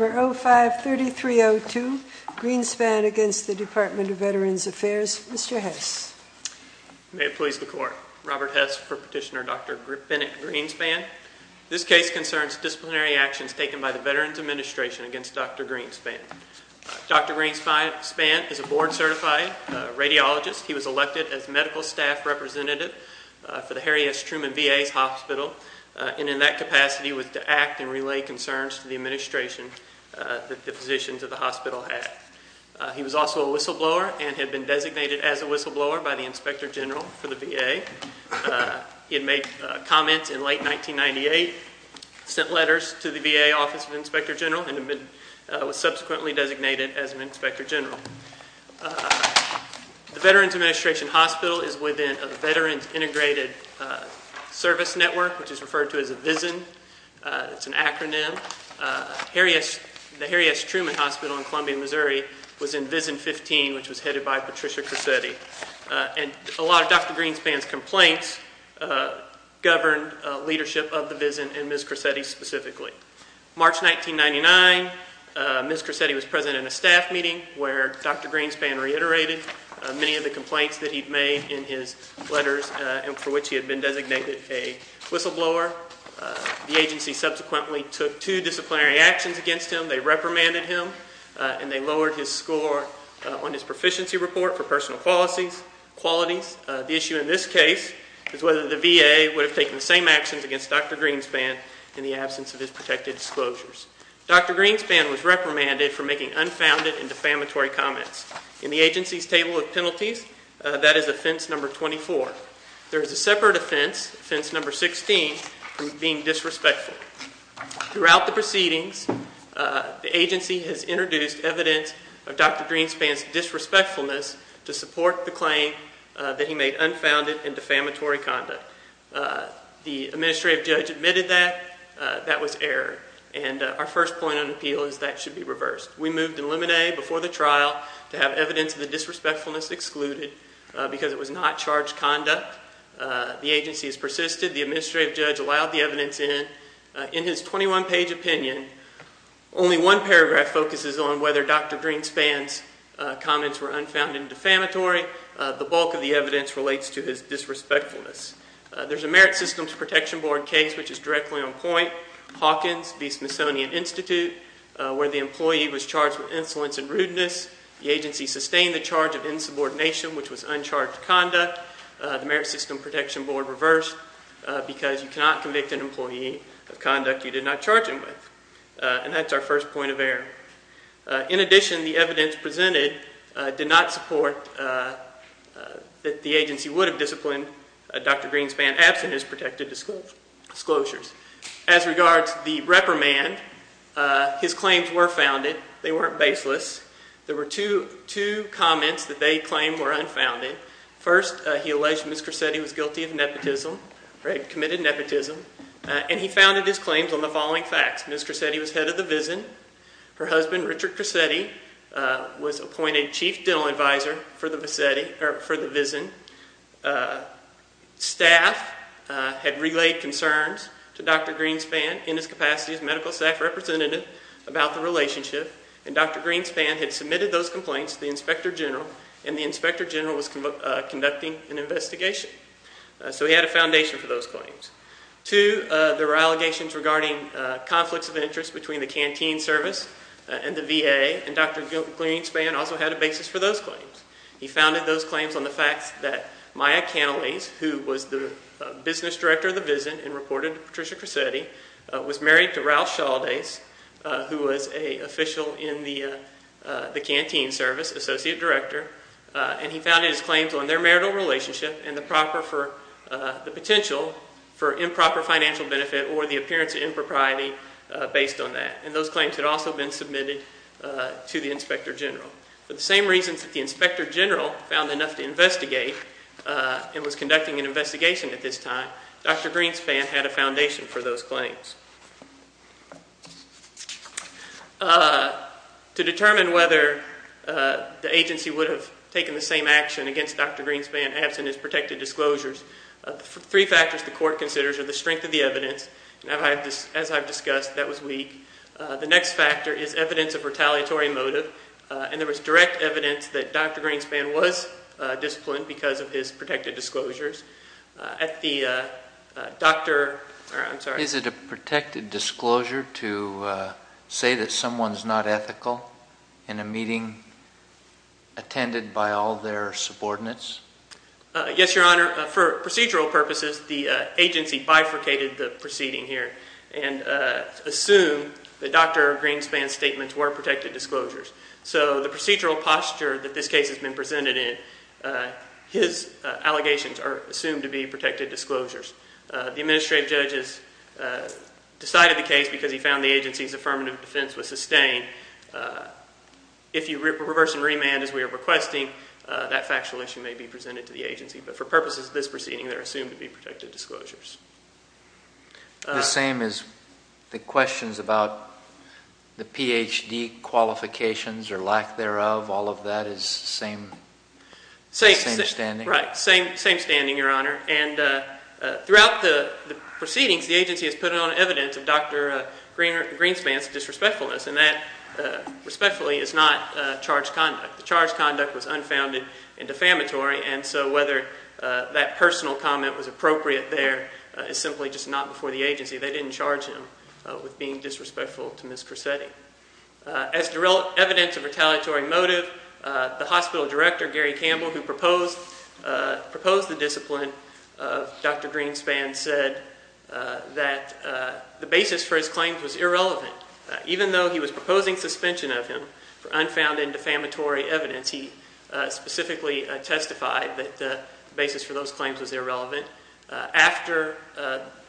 05-3302 Greenspan v. Department of Veterans Affairs Mr. Hess. May it please the Court. Robert Hess for Petitioner Dr. Bennett Greenspan. This case concerns disciplinary actions taken by the Veterans Administration against Dr. Greenspan. Dr. Greenspan is a board certified radiologist. He was elected as medical staff representative for the Harry S. Truman VA's hospital and in that capacity was to act and relay concerns to the administration that the physicians of the hospital had. He was also a whistleblower and had been designated as a whistleblower by the Inspector General for the VA. He had made comments in late 1998, sent letters to the VA Office of the Inspector General and was subsequently designated as an Inspector General. The Veterans Administration Hospital is within a Veterans Integrated Service Network, which is referred to as a VISN, it's an acronym. The Harry S. Truman Hospital in Columbia, Missouri was in VISN 15, which was headed by Patricia Cressetti. And a lot of Dr. Greenspan's complaints governed leadership of the VISN and Ms. Cressetti specifically. March 1999, Ms. Cressetti was present in a staff meeting where Dr. Greenspan reiterated many of the complaints that he'd made in his letters and for which he had been designated a whistleblower. The agency subsequently took two disciplinary actions against him. They reprimanded him and they lowered his score on his proficiency report for personal qualities. The issue in this case is whether the VA would have taken the same actions against Dr. Greenspan in the absence of his protected disclosures. Dr. Greenspan was reprimanded for making unfounded and defamatory comments. In the agency's table of penalties, that is offense number 24. There is a separate offense, offense number 16, for being disrespectful. Throughout the proceedings, the agency has introduced evidence of Dr. Greenspan's disrespectfulness to support the claim that he made unfounded and defamatory conduct. The administrative judge admitted that. That was error. And our first point on appeal is that should be reversed. We moved to eliminate before the trial to have evidence of the disrespectfulness excluded because it was not charged conduct. The agency has persisted. The administrative judge allowed the evidence in. In his 21-page opinion, only one paragraph focuses on whether Dr. Greenspan's comments were unfounded and defamatory. The bulk of the evidence relates to his disrespectfulness. There's a Merit Systems Protection Board case, which is directly on point, Hawkins v. Smithsonian Institute, where the employee was charged with insolence and rudeness. The agency sustained the charge of insubordination, which was uncharged conduct. The Merit Systems Protection Board reversed because you cannot convict an employee of conduct you did not charge him with. And that's our first point of error. In addition, the evidence presented did not support that the agency would have disciplined Dr. Greenspan absent his protected disclosures. As regards the reprimand, his claims were founded. They weren't baseless. There were two comments that they claimed were unfounded. First, he alleged Ms. Cresetti was guilty of nepotism, committed nepotism, and he founded his claims on the following facts. Ms. Cresetti was head of the VISN. Her husband, Richard Cresetti, was appointed chief dental advisor for the VISN. Staff had relayed concerns to Dr. Greenspan in his capacity as medical staff representative about the relationship, and Dr. Greenspan had submitted those complaints to the inspector general, and the inspector general was conducting an investigation. So he had a foundation for those claims. Two, there were allegations regarding conflicts of interest between the canteen service and the VA, and Dr. Greenspan also had a basis for those claims. He founded those claims on the facts that Maya Canales, who was the business director of the VISN and reported to Patricia Cresetti, was married to Ralph Shaldes, who was an official in the canteen service, associate director, and he founded his claims on their marital relationship and the potential for improper financial benefit or the appearance of impropriety based on that, and those claims had also been submitted to the inspector general. For the same reasons that the inspector general found enough to investigate and was conducting an investigation at this time, Dr. Greenspan had a foundation for those claims. To determine whether the agency would have taken the same action against Dr. Greenspan absent his protected disclosures, three factors the court considers are the strength of the evidence, and as I've discussed, that was weak. The next factor is evidence of retaliatory motive, and there was direct evidence that Dr. Greenspan was disciplined because of his protected disclosures. At the doctor, I'm sorry. Is it a protected disclosure to say that someone's not ethical in a meeting attended by all their subordinates? Yes, Your Honor. For procedural purposes, the agency bifurcated the proceeding here and assumed that Dr. Greenspan's statements were protected disclosures, so the procedural posture that this case has been presented in, his allegations are assumed to be protected disclosures. The administrative judge has decided the case because he found the agency's affirmative defense was sustained. If you reverse and remand as we are requesting, that factual issue may be presented to the agency, but for purposes of this proceeding, they're assumed to be protected disclosures. The same as the questions about the Ph.D. qualifications or lack thereof, all of that is same standing? Right, same standing, Your Honor. And throughout the proceedings, the agency has put on evidence of Dr. Greenspan's disrespectfulness, and that respectfully is not charged conduct. The charged conduct was unfounded and defamatory, and so whether that personal comment was appropriate there is simply just not before the agency. They didn't charge him with being disrespectful to Ms. Corsetti. As evidence of retaliatory motive, the hospital director, Gary Campbell, who proposed the discipline of Dr. Greenspan said that the basis for his claims was irrelevant. Even though he was proposing suspension of him for unfounded and defamatory evidence, he specifically testified that the basis for those claims was irrelevant. After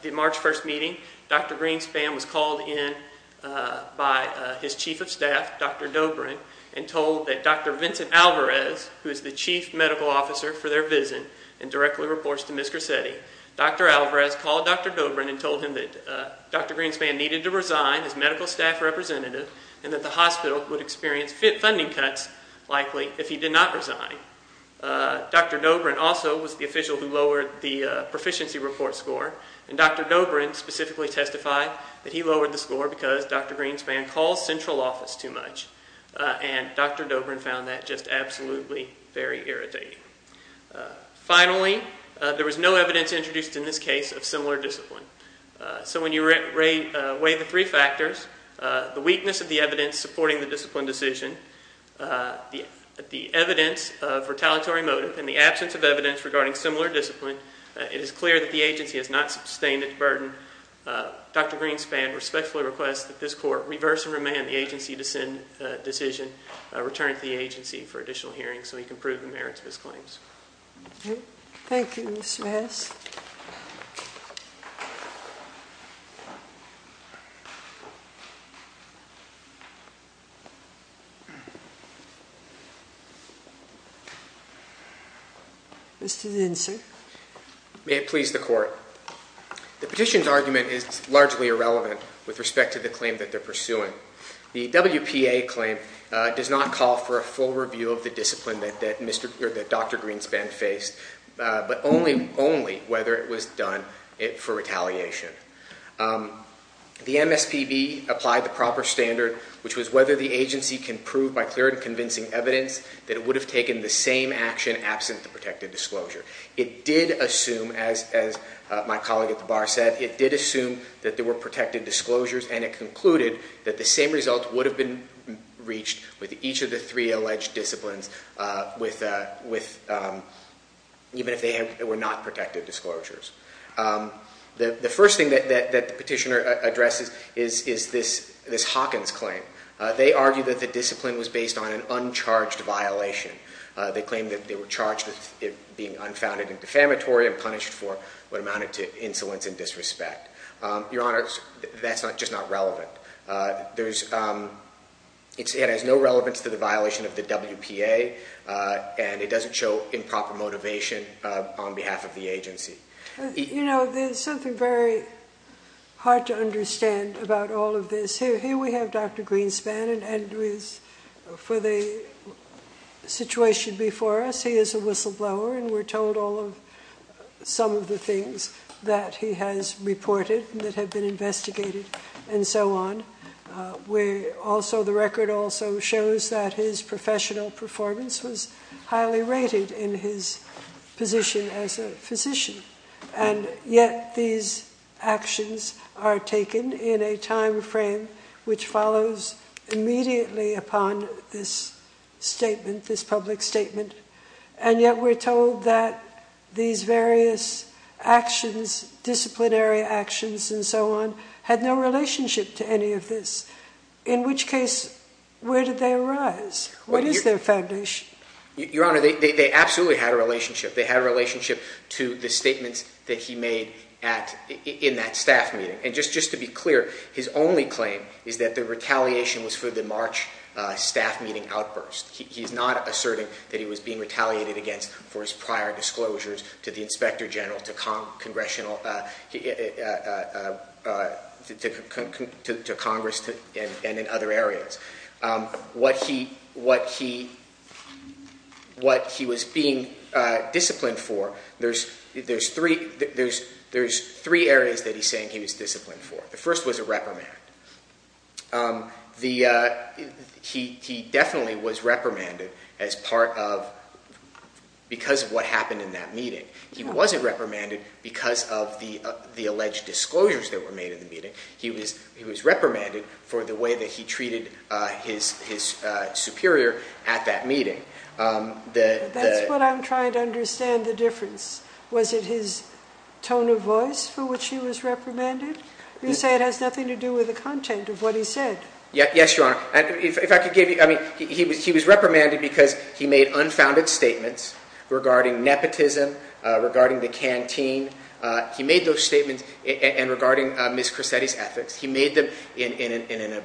the March 1st meeting, Dr. Greenspan was called in by his chief of staff, Dr. Dobrin, and told that Dr. Vincent Alvarez, who is the chief medical officer for their visit and directly reports to Ms. Corsetti. Dr. Alvarez called Dr. Dobrin and told him that Dr. Greenspan needed to resign as medical staff representative and that the hospital would experience funding cuts likely if he did not resign. Dr. Dobrin also was the official who lowered the proficiency report score, and Dr. Dobrin specifically testified that he lowered the score because Dr. Greenspan calls central office too much, and Dr. Dobrin found that just absolutely very irritating. Finally, there was no evidence introduced in this case of similar discipline. So when you weigh the three factors, the weakness of the evidence supporting the discipline decision, the evidence of retaliatory motive, and the absence of evidence regarding similar discipline, it is clear that the agency has not sustained its burden. Dr. Greenspan respectfully requests that this court reverse and remand the agency to send a decision return to the agency for additional hearings so he can prove the merits of his claims. Thank you, Mr. Hess. Mr. Zinser. May it please the court. The petition's argument is largely irrelevant with respect to the claim that they're pursuing. The WPA claim does not call for a full review of the discipline that Dr. Greenspan faced, but only whether it was done for retaliation. The MSPB applied the proper standard, which was whether the agency can prove by clear and convincing evidence that it would have taken the same action absent the protected disclosure. It did assume, as my colleague at the bar said, it did assume that there were protected disclosures, and it concluded that the same result would have been reached with each of the three alleged disciplines, even if they were not protected disclosures. The first thing that the petitioner addresses is this Hawkins claim. They argue that the discipline was based on an uncharged violation. They claim that they were charged with it being unfounded and defamatory and punished for what amounted to insolence and disrespect. Your Honor, that's just not relevant. It has no relevance to the violation of the WPA, and it doesn't show improper motivation on behalf of the agency. There's something very hard to understand about all of this. Here we have Dr. Greenspan, and for the situation before us, he is a whistleblower, and we're told some of the things that he has reported that have been investigated and so on. The record also shows that his professional performance was highly rated in his position as a physician, and yet these actions are taken in a time frame which follows immediately upon this statement, this public statement, and yet we're told that these various actions, disciplinary actions and so on, had no relationship to any of this. In which case, where did they arise? What is their foundation? Your Honor, they absolutely had a relationship. They had a relationship to the statements that he made in that staff meeting. And just to be clear, his only claim is that the retaliation was for the March staff meeting outburst. He's not asserting that he was being retaliated against for his prior disclosures to the Inspector General, to Congress, and in other areas. What he was being disciplined for, there's three areas that he's saying he was disciplined for. The first was a reprimand. He definitely was reprimanded because of what happened in that meeting. He wasn't reprimanded because of the alleged disclosures that were made in the meeting. He was reprimanded for the way that he treated his superior at that meeting. That's what I'm trying to understand the difference. Was it his tone of voice for which he was reprimanded? You say it has nothing to do with the content of what he said. Yes, Your Honor. He was reprimanded because he made unfounded statements regarding nepotism, regarding the canteen. He made those statements regarding Ms. Corsetti's ethics. He made them in an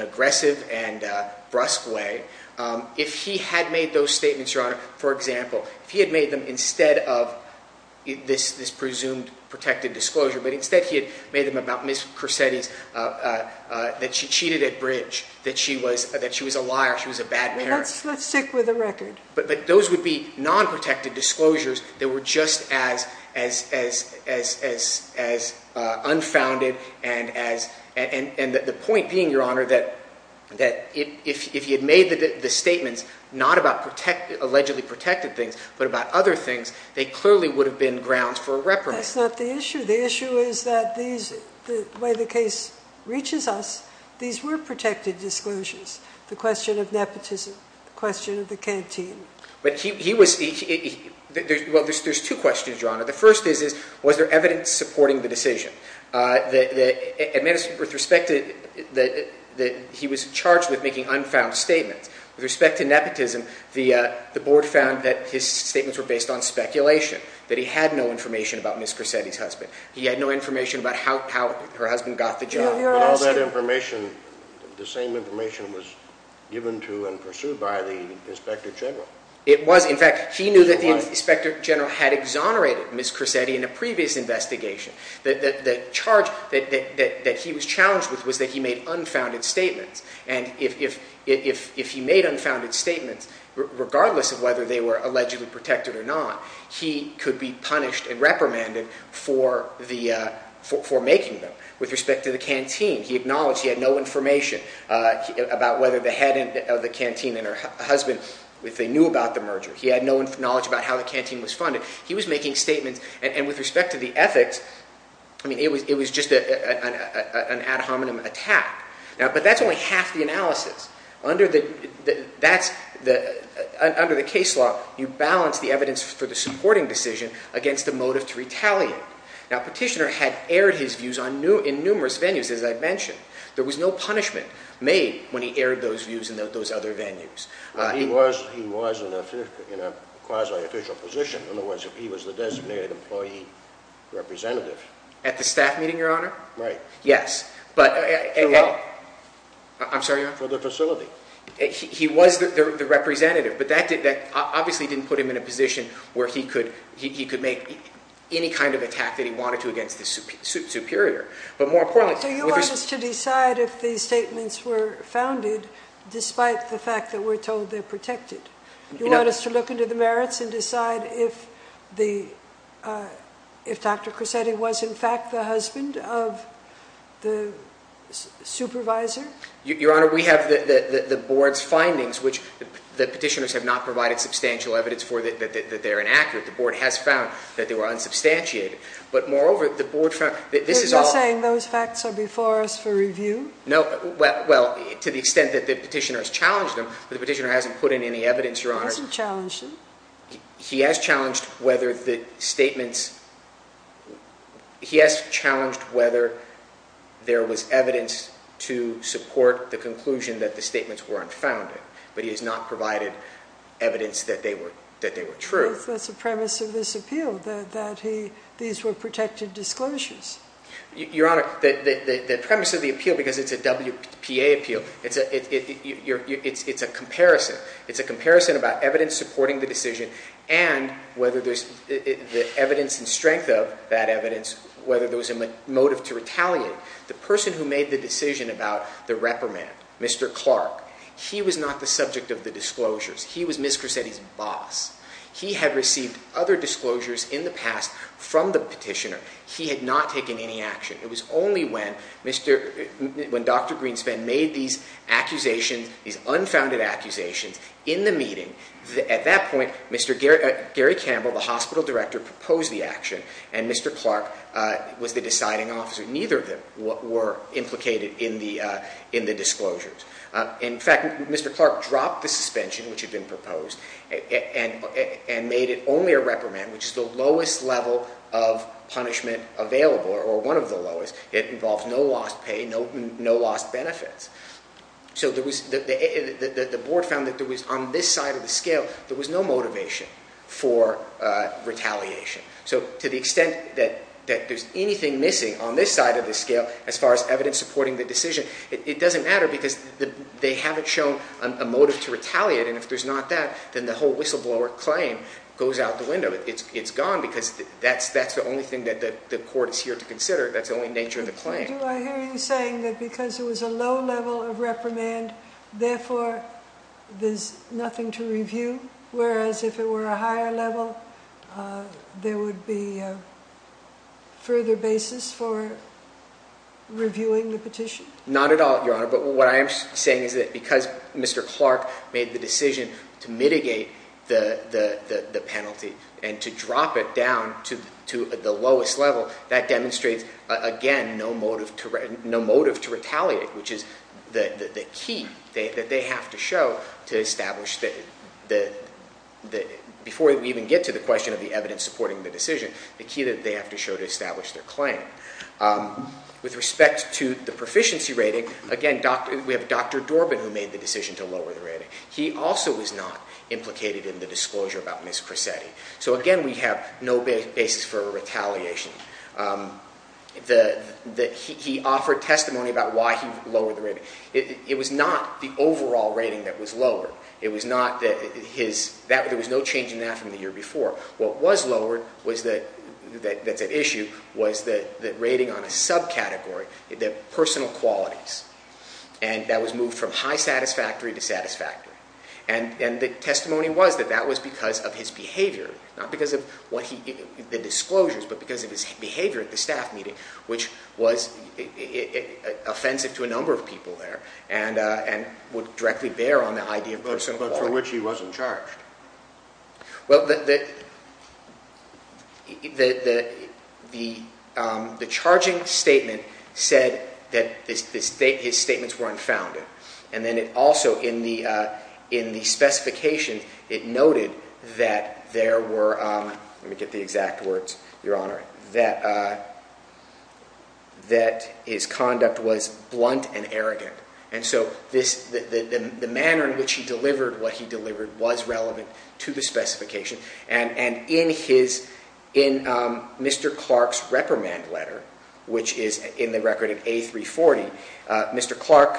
aggressive and brusque way. If he had made those statements, Your Honor, for example, if he had made them instead of this presumed protected disclosure, but instead he had made them about Ms. Corsetti's, that she cheated at bridge, that she was a liar, she was a bad parent. Let's stick with the record. Those would be non-protected disclosures that were just as unfounded. The point being, Your Honor, that if he had made the statements not about allegedly protected things, but about other things, they clearly would have been grounds for a reprimand. That's not the issue. The issue is that the way the case reaches us, these were protected disclosures. The question of nepotism, the question of the canteen. There's two questions, Your Honor. The first is, was there evidence supporting the decision? He was charged with making unfound statements. With respect to nepotism, the board found that his statements were based on speculation, that he had no information about Ms. Corsetti's husband. He had no information about how her husband got the job. All that information, the same information was given to and pursued by the Inspector General. It was. In fact, he knew that the Inspector General had exonerated Ms. Corsetti in a previous investigation. The charge that he was challenged with was that he made unfounded statements. And if he made unfounded statements, regardless of whether they were allegedly protected or not, he could be punished and reprimanded for making them. With respect to the canteen, he acknowledged he had no information about whether the head of the canteen and her husband knew about the merger. He had no knowledge about how the canteen was funded. He was making statements, and with respect to the ethics, it was just an ad hominem attack. But that's only half the analysis. Under the case law, you balance the evidence for the supporting decision against the motive to retaliate. Now, Petitioner had aired his views in numerous venues, as I mentioned. There was no punishment made when he aired those views in those other venues. He was in a quasi-official position. In other words, he was the designated employee representative. At the staff meeting, Your Honor? Right. Yes, but... I'm sorry, Your Honor? For the facility. He was the representative, but that obviously didn't put him in a position where he could make any kind of attack that he wanted to against the superior. But more importantly... So you want us to decide if these statements were founded, despite the fact that we're told they're protected? You want us to look into the merits and decide if Dr. Cressetti was, in fact, the husband of the supervisor? Your Honor, we have the board's findings, which the petitioners have not provided substantial evidence for that they're inaccurate. The board has found that they were unsubstantiated. But moreover, the board found that this is all... You're saying those facts are before us for review? No. Well, to the extent that the petitioner has challenged them, but the petitioner hasn't put in any evidence, Your Honor. He hasn't challenged them. He has challenged whether the statements... conclusion that the statements were unfounded. But he has not provided evidence that they were true. That's the premise of this appeal, that these were protected disclosures. Your Honor, the premise of the appeal, because it's a WPA appeal, it's a comparison. It's a comparison about evidence supporting the decision and whether there's... the evidence and strength of that evidence, whether there was a motive to retaliate. The person who made the decision about the reprimand, Mr. Clark, he was not the subject of the disclosures. He was Ms. Cresetti's boss. He had received other disclosures in the past from the petitioner. He had not taken any action. It was only when Dr. Greenspan made these accusations, these unfounded accusations, in the meeting, at that point, Gary Campbell, the hospital director, proposed the action. And Mr. Clark was the deciding officer. Neither of them were implicated in the disclosures. In fact, Mr. Clark dropped the suspension, which had been proposed, and made it only a reprimand, which is the lowest level of punishment available, or one of the lowest. It involved no lost pay, no lost benefits. So the board found that there was, on this side of the scale, there was no motivation for retaliation. So to the extent that there's anything missing on this side of the scale, as far as evidence supporting the decision, it doesn't matter because they haven't shown a motive to retaliate. And if there's not that, then the whole whistleblower claim goes out the window. It's gone because that's the only thing that the court is here to consider. That's the only nature of the claim. Do I hear you saying that because it was a low level of reprimand, therefore, there's nothing to review? Whereas if it were a higher level, there would be a further basis for reviewing the petition? Not at all, Your Honor. But what I am saying is that because Mr. Clark made the decision to mitigate the penalty and to drop it down to the lowest level, that demonstrates, again, no motive to retaliate, which is the key that they have to show to establish, before we even get to the question of the evidence supporting the decision, the key that they have to show to establish their claim. With respect to the proficiency rating, again, we have Dr. Dorbin who made the decision to lower the rating. He also was not implicated in the disclosure about Ms. Cressetti. So again, we have no basis for retaliation. He offered testimony about why he lowered the rating. It was not the overall rating that was lowered. It was not that there was no change in that from the year before. What was lowered, that's at issue, was the rating on a subcategory, the personal qualities. And that was moved from high satisfactory to satisfactory. And the testimony was that that was because of his behavior, not because of the disclosures, but because of his behavior at the staff meeting, which was offensive to a number of people there, and would directly bear on the idea of personal qualities. But for which he wasn't charged. Well, the charging statement said that his statements were unfounded. And then it also, in the specifications, it noted that there were, let me get the exact words, Your Honor, that his conduct was blunt and arrogant. And so the manner in which he delivered what he delivered was relevant to the specification. And in Mr. Clark's reprimand letter, which is in the record of A340, Mr. Clark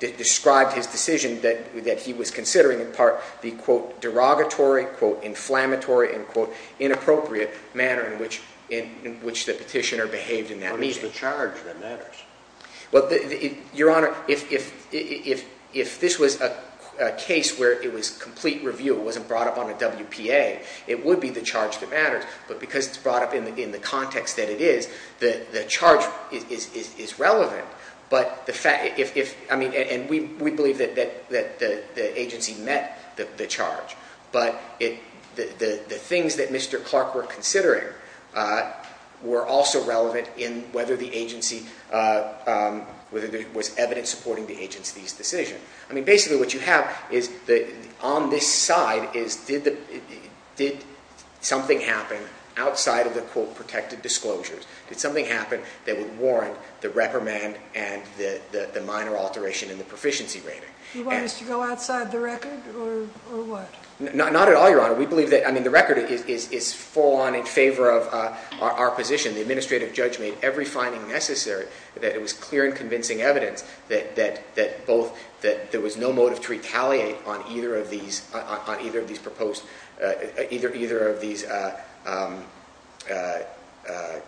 described his decision that he was considering in part the, quote, derogatory, quote, inflammatory, and, quote, inappropriate manner in which the petitioner behaved in that meeting. What is the charge that matters? Well, Your Honor, if this was a case where it was complete review, it wasn't brought up on a WPA, it would be the charge that matters. But because it's brought up in the context that it is, the charge is relevant. But the fact, if, I mean, and we believe that the agency met the charge. But the things that Mr. Clark were considering were also relevant in whether the agency, whether there was evidence supporting the agency's decision. I mean, basically what you have is, on this side is, did something happen outside of the, quote, protected disclosures? Did something happen that would warrant the reprimand and the minor alteration in the proficiency rating? You want us to go outside the record or what? Not at all, Your Honor. We believe that, I mean, the record is full on in favor of our position. The administrative judge made every finding necessary that it was clear and convincing evidence that both, that there was no motive to retaliate on either of these proposed, either of these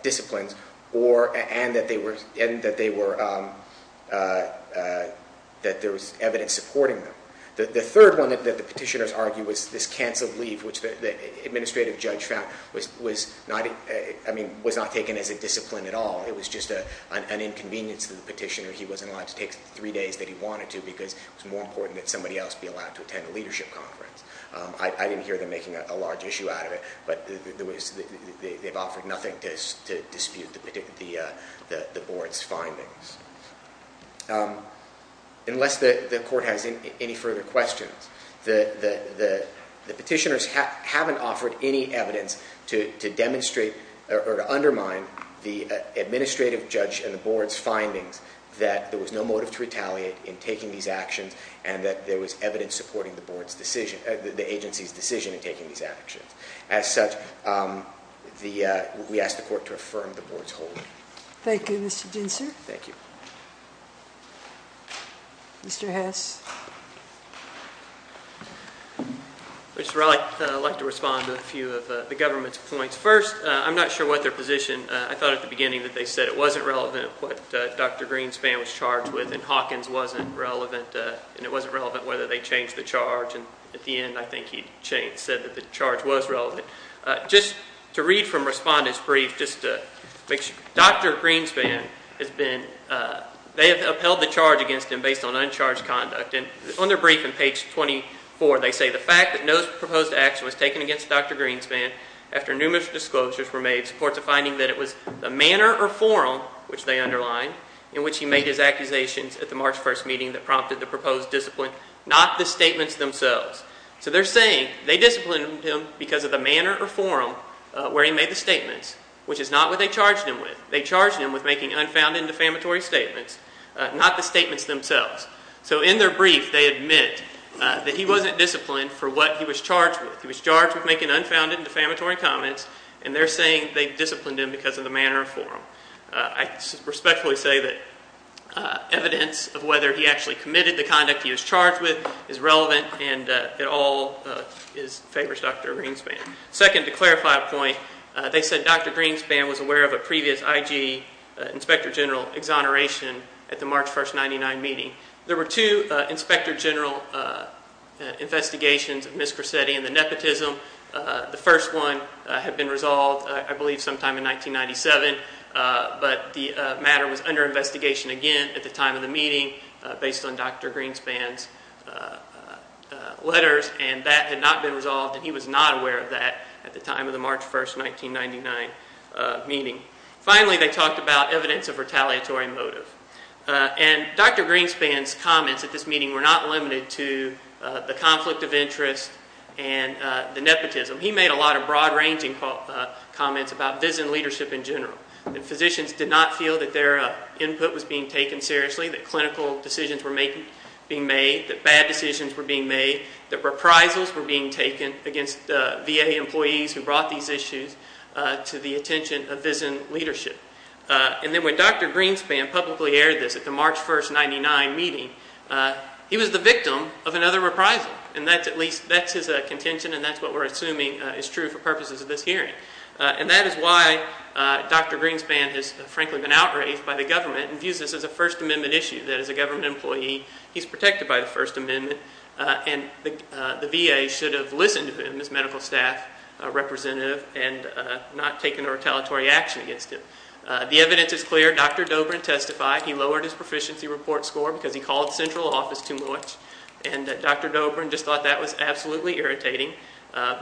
disciplines or, and that they were, that there was evidence supporting them. The third one that the petitioners argued was this canceled leave, which the administrative judge found was not, I mean, was not taken as a discipline at all. It was just an inconvenience to the petitioner. He wasn't allowed to take three days that he wanted to because it's more important that somebody else be allowed to attend a leadership conference. I didn't hear them making a large issue out of it, but they've offered nothing to dispute the board's findings. Unless the court has any further questions, the petitioners haven't offered any evidence to demonstrate or to undermine the administrative judge and the board's findings that there was no motive to retaliate in taking these actions and that there was evidence supporting the board's decision, the agency's decision in taking these actions. As such, the, we asked the court to affirm the board's hold. Thank you, Mr. Dinser. Thank you. Mr. Hess. Mr. Riley, I'd like to respond to a few of the government's points. First, I'm not sure what their position, I thought at the beginning that they said it wasn't relevant at what Dr. Greenspan was charged with and Hawkins wasn't relevant, and it wasn't relevant whether they changed the charge. And at the end, I think he said that the charge was relevant. Just to read from respondent's brief, just to make sure, Dr. Greenspan has been, they have upheld the charge against him based on uncharged conduct. And on their brief in page 24, they say, the fact that no proposed action was taken against Dr. Greenspan after numerous disclosures were made supports a finding that it was the manner or forum, which they underlined, in which he made his accusations at the March 1st meeting that prompted the proposed discipline, not the statements themselves. So they're saying they disciplined him because of the manner or forum where he made the statements, which is not what they charged him with. They charged him with making unfounded and defamatory statements, not the statements themselves. So in their brief, they admit that he wasn't disciplined for what he was charged with. He was charged with making unfounded and defamatory comments, and they're saying they disciplined him because of the manner or forum. I respectfully say that evidence of whether he actually committed the conduct he was charged with is relevant, and it all favors Dr. Greenspan. Second, to clarify a point, they said Dr. Greenspan was aware of a previous IG Inspector General exoneration at the March 1st, 99 meeting. There were two Inspector General investigations of Ms. Cressetti and the nepotism. The first one had been resolved, I believe, sometime in 1997. But the matter was under investigation again at the time of the meeting based on Dr. Greenspan's letters, and that had not been resolved, and he was not aware of that at the time of the March 1st, 1999 meeting. Finally, they talked about evidence of retaliatory motive. And Dr. Greenspan's comments at this meeting were not limited to the conflict of interest and the nepotism. He made a lot of broad-ranging comments about VISN leadership in general. Physicians did not feel that their input was being taken seriously, that clinical decisions were being made, that bad decisions were being made, that reprisals were being taken against VA employees who brought these issues to the attention of VISN leadership. And then when Dr. Greenspan publicly aired this at the March 1st, 1999 meeting, he was the victim of another reprisal. And that's his contention, and that's what we're assuming is true for purposes of this hearing. And that is why Dr. Greenspan has, frankly, been outraged by the government and views this as a First Amendment issue, that as a government employee, he's protected by the First Amendment, and the VA should have listened to him as medical staff representative and not taken a retaliatory action against him. The evidence is clear. Dr. Dobrin testified. He lowered his proficiency report score because he called central office too much, and Dr. Dobrin just thought that was absolutely irritating.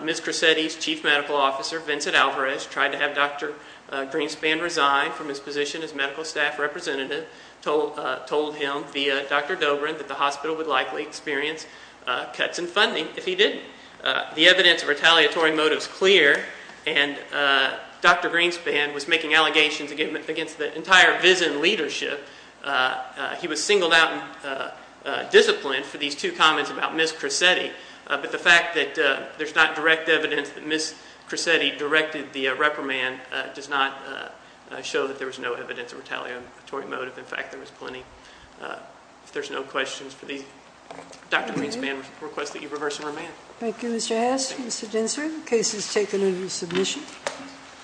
Ms. Cresetti's chief medical officer, Vincent Alvarez, tried to have Dr. Greenspan resign from his position as medical staff representative, told him via Dr. Dobrin that the hospital would likely experience cuts in funding if he didn't. The evidence of retaliatory motive is clear, and Dr. Greenspan was making allegations against the entire VISN leadership. He was singled out and disciplined for these two comments about Ms. Cresetti. But the fact that there's not direct evidence that Ms. Cresetti directed the reprimand does not show that there was no evidence of retaliatory motive. In fact, there was plenty. If there's no questions for these, Dr. Greenspan requests that you reverse and remand. Thank you, Mr. Hess. Mr. Densard, the case is taken into submission.